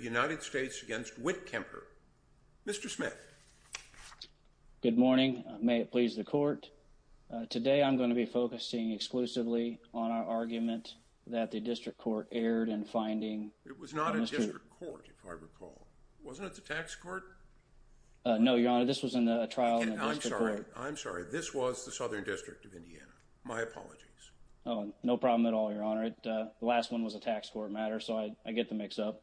United States against Witkemper. Mr. Smith. Good morning. May it please the court. Today I'm going to be focusing exclusively on our argument that the district court erred in finding. It was not a district court, if I recall. Wasn't it the tax court? No, Your Honor, this was in the trial in the district court. I'm sorry, I'm sorry. This was the Southern District of Indiana. My apologies. Oh, no problem at all, Your Honor. The last one was a tax court matter, so I get the mix up.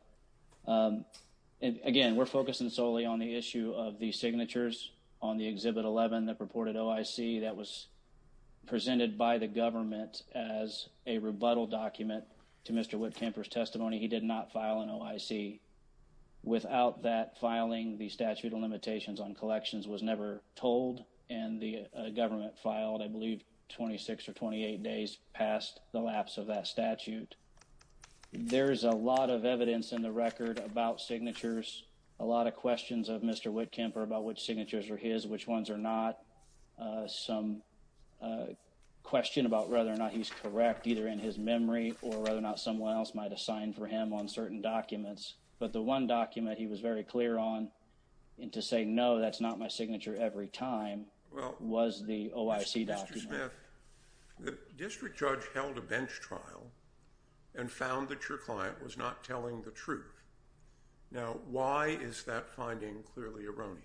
Again, we're focusing solely on the issue of the signatures on the Exhibit 11 that purported OIC that was presented by the government as a rebuttal document to Mr. Witkemper's testimony. He did not file an OIC. Without that filing, the statute of limitations on collections was never told, and the government filed, I believe, 26 or 28 days past the lapse of that statute. There is a lot of evidence in the record about signatures, a lot of questions of Mr. Witkemper about which signatures are his, which ones are not. Some question about whether or not he's correct, either in his memory or whether or not someone else might have signed for him on certain documents. But the one document he was very clear on, and to say, No, that's not my signature every time, was the OIC document. Mr. Smith, the district judge held a bench trial and found that your client was not telling the truth. Now, why is that finding clearly erroneous?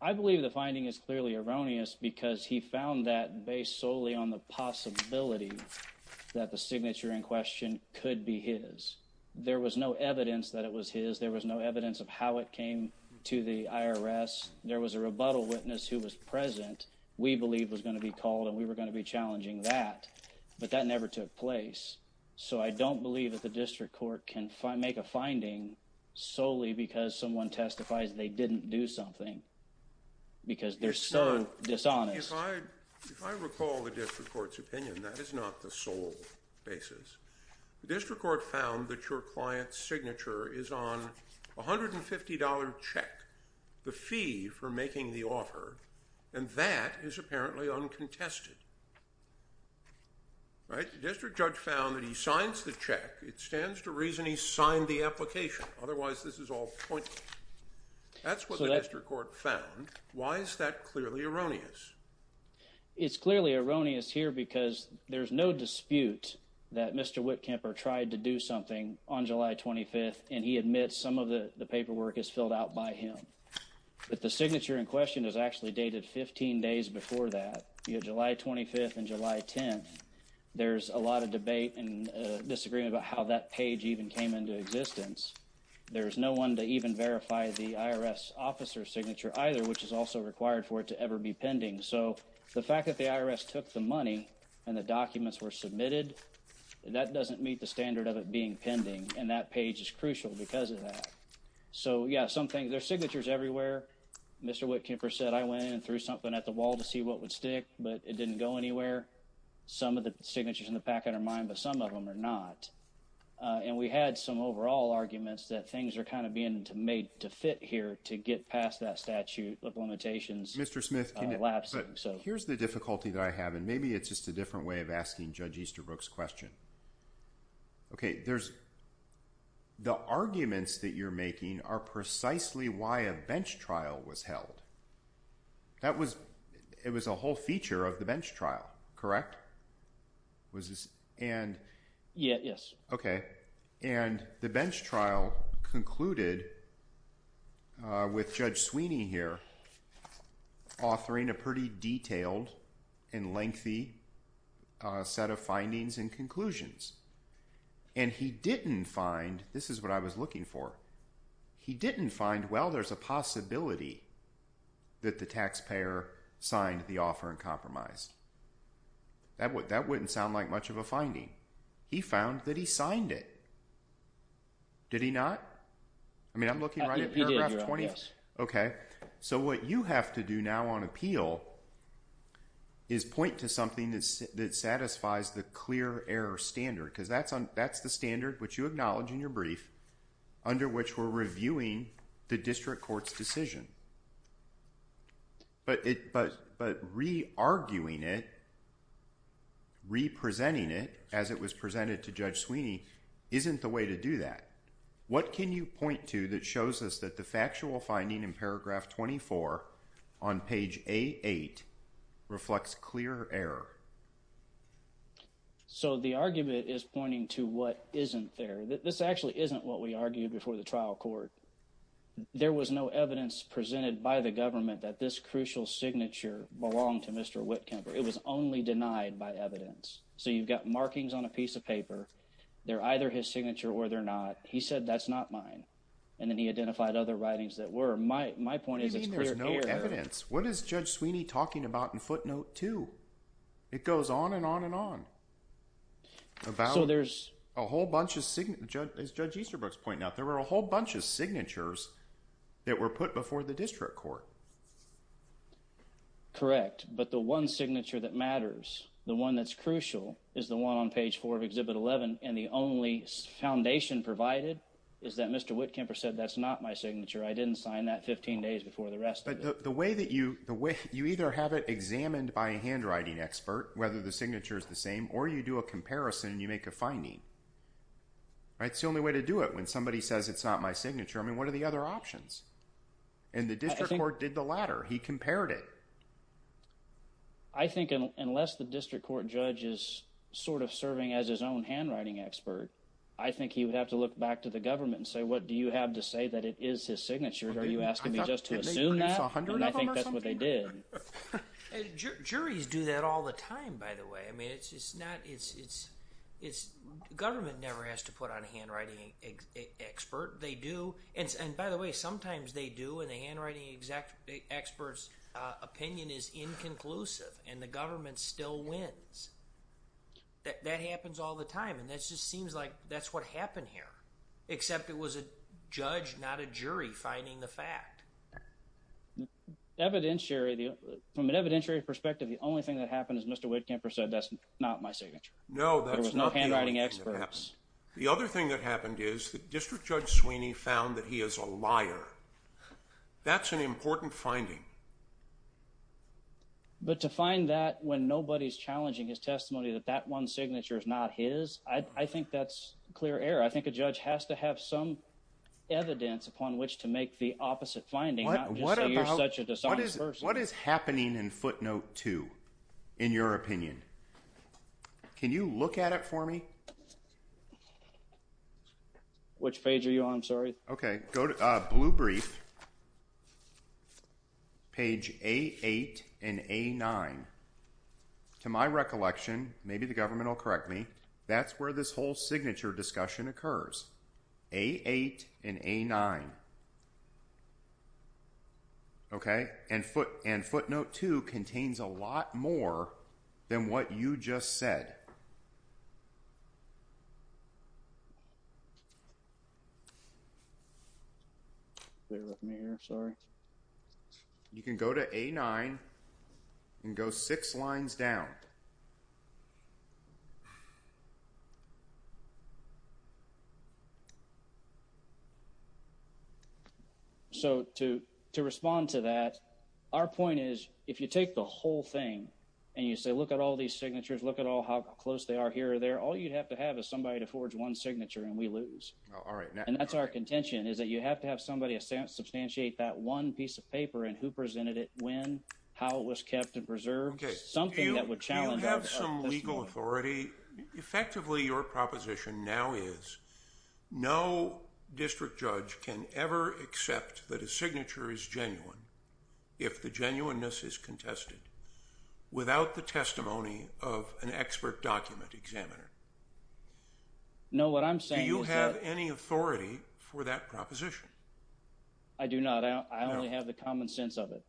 I believe the finding is clearly erroneous because he found that based solely on the possibility that the signature in question could be his. There was no evidence that it was present. We believed it was going to be called and we were going to be challenging that, but that never took place. So I don't believe that the district court can make a finding solely because someone testifies they didn't do something because they're so dishonest. If I recall the district court's opinion, that is not the sole basis. The district court found that your client's signature is on a $150 check, the fee for making the offer, and that is apparently uncontested. The district judge found that he signs the check. It stands to reason he signed the application. Otherwise, this is all pointless. That's what the district court found. Why is that clearly erroneous? It's clearly erroneous here because there's no dispute that Mr. Whitkemper tried to do something on July 25th and he admits some of the paperwork is filled out by him. But the signature in question is actually dated 15 days before that. You had July 25th and July 10th. There's a lot of debate and disagreement about how that page even came into existence. There's no one to even verify the IRS officer's signature either, which is also required for it to ever be pending. So the fact that the documents were submitted, that doesn't meet the standard of it being pending, and that page is crucial because of that. So yeah, there's signatures everywhere. Mr. Whitkemper said I went in and threw something at the wall to see what would stick, but it didn't go anywhere. Some of the signatures in the packet are mine, but some of them are not. And we had some overall arguments that things are kind of being made to fit here to get past that statute of limitations. Mr. Smith, here's the difficulty that I have, and maybe it's just a different way of asking Judge Easterbrook's question. The arguments that you're making are precisely why a bench trial was held. It was a whole feature of the bench trial, correct? Yes. Okay. And the bench trial concluded with Judge Sweeney here authoring a pretty detailed and set of findings and conclusions. And he didn't find, this is what I was looking for, he didn't find, well, there's a possibility that the taxpayer signed the offer and compromised. That wouldn't sound like much of a finding. He found that he signed it. Did he not? I mean, I'm looking right at paragraph 20. He did, yes. Okay. So what you have to do now on appeal is point to something that satisfies the clear error standard, because that's the standard which you acknowledge in your brief under which we're reviewing the district court's decision. But re-arguing it, re-presenting it as it was presented to Judge Sweeney isn't the way to do that. What can you point to that shows us that the factual finding in paragraph 24 on page A8 reflects clear error? So the argument is pointing to what isn't there. This actually isn't what we argued before the trial court. There was no evidence presented by the government that this crucial signature belonged to Mr. Whitkemper. It was only denied by evidence. So you've got markings on a piece of paper. They're either his signature or they're not. He said, that's not mine. And then he identified other writings that were. My point is it's clear error. You mean there's no evidence. What is Judge Sweeney talking about in footnote 2? It goes on and on and on. As Judge Easterbrook's pointing out, there were a whole bunch of signatures that were put before the district court. Correct. But the one signature that matters, the one that's crucial, is the one on page 4 of Exhibit 11. And the only foundation provided is that Mr. Whitkemper said, that's not my signature. I didn't sign that 15 days before the arrest. But the way that you either have it examined by a handwriting expert, whether the signature is the same, or you do a comparison and you make a finding. That's the only way to do it when somebody says it's not my signature. I mean, what are the other options? And the judge did the latter. He compared it. I think unless the district court judge is sort of serving as his own handwriting expert, I think he would have to look back to the government and say, what do you have to say that it is his signature? Are you asking me just to assume that? And I think that's what they did. Juries do that all the time, by the way. I mean, it's not, it's, it's, it's, government never has to put on a handwriting expert. They do. And by the way, sometimes they do and the handwriting expert's opinion is inconclusive and the government still wins. That happens all the time. And that just seems like that's what happened here. Except it was a judge, not a jury, finding the fact. Evidentiary, from an evidentiary perspective, the only thing that happened is Mr. Whitkemper said, that's not my signature. No, that's not the only thing that happened. The other thing that happened is the district judge Sweeney found that he is a liar. That's an important finding. But to find that when nobody's challenging his testimony, that that one signature is not his. I think that's clear error. I think a judge has to have some evidence upon which to make the opposite finding. Not just say you're such a dishonest person. What is happening in footnote two, in your opinion? Can you look at it for me? Which page are you on? I'm sorry. Okay, go to blue brief. Page A8 and A9. To my recollection, maybe the government will correct me. That's where this whole signature discussion occurs. A8 and A9. Okay, and footnote two contains a lot more than what you just said. You can go to A9 and go six lines down. Okay. So to respond to that, our point is if you take the whole thing and you say look at all these signatures, look at all how close they are here or there, all you'd have to have is somebody to forge one signature and we lose. And that's our contention is that you have to have somebody substantiate that one piece of paper and who presented it, when, how it was kept and preserved. Something that would challenge our testimony. Do you have some legal authority? Effectively, your proposition now is no district judge can ever accept that a signature is genuine if the genuineness is contested without the testimony of an expert document examiner. No, what I'm saying is that. Do you have any authority for that proposition? I do not. I only have the common sense of it.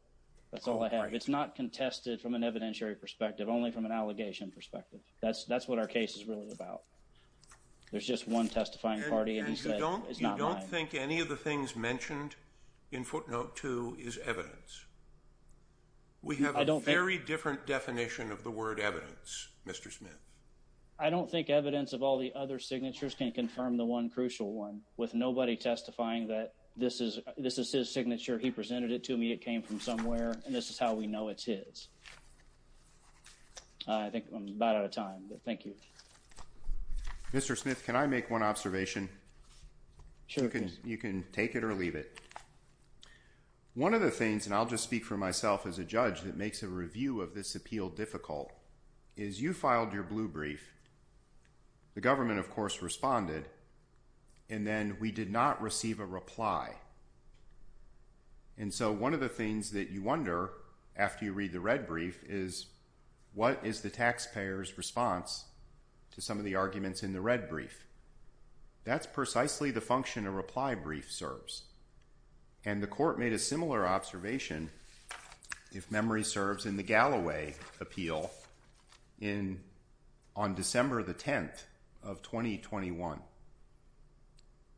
That's all I have. It's not contested from an evidentiary perspective, only from an allegation perspective. That's what our case is really about. There's just one testifying party and he said it's not mine. And you don't think any of the things mentioned in footnote two is evidence? We have a very different definition of the word evidence, Mr. Smith. I don't think evidence of all the other signatures can confirm the one crucial one with nobody testifying that this is this is his signature. He presented it to me. It came from somewhere. And this is how we know it's his. I think I'm about out of time. Thank you, Mr. Smith. Can I make one observation? You can take it or leave it. One of the things and I'll just speak for myself as a judge that makes a review of this appeal difficult is you filed your blue brief. The government, of course, responded. And then we did not receive a reply. And so one of the things that you wonder after you read the red brief is what is the taxpayer's response to some of the arguments in the red brief? That's precisely the function of reply brief serves. And the court made a similar observation. If memory serves in the Galloway appeal in on December the 10th of 2021.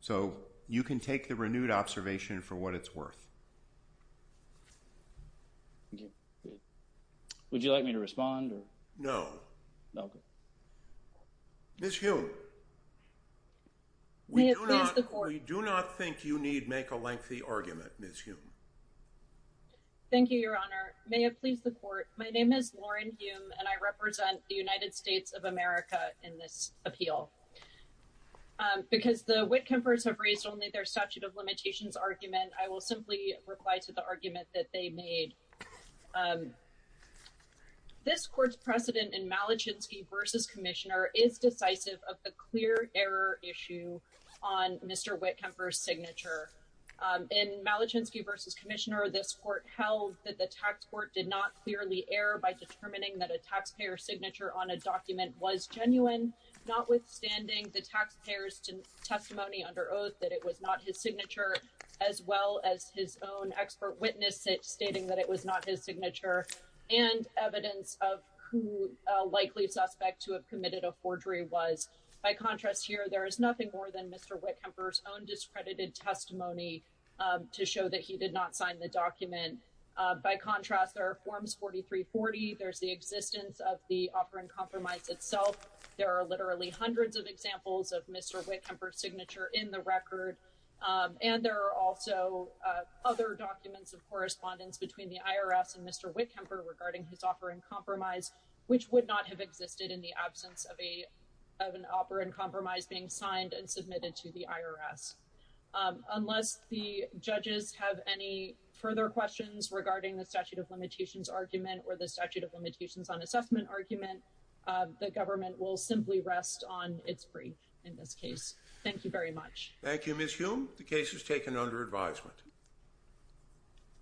So you can take the renewed observation for what it's worth. Would you like me to respond? No. Okay. Miss you. We do not think you need make a lengthy argument. Miss you. Thank you, Your Honor. May it please the court. My name is Lauren and I represent the United States of America in this appeal. Because the Whitcombers have raised only their statute of limitations argument. I will simply reply to the argument that they made. This court's precedent in Malachinsky versus commissioner is decisive of the clear error issue on Mr. Whitcomber signature in Malachinsky versus commissioner. This court held that the tax court did not clearly err by determining that a taxpayer signature on a document was genuine. Notwithstanding the taxpayers to testimony under oath that it was not his signature as well as his own expert witnesses stating that it was not his signature. And evidence of who likely suspect to have committed a forgery was by contrast here. There is nothing more than Mr. Whitcomber's own discredited testimony to show that he did not sign the document. By contrast, there are forms 4340. There's the existence of the offer and compromise itself. There are literally hundreds of examples of Mr. Whitcomber signature in the record. And there are also other documents of correspondence between the IRS and Mr. Whitcomber regarding his offer and compromise, which would not have existed in the absence of a of an opera and compromise being signed and submitted to the IRS. Unless the judges have any further questions regarding the statute of limitations argument or the statute of limitations on assessment argument. The government will simply rest on its free. In this case. Thank you very much. Thank you. Miss you. The case is taken under advisement.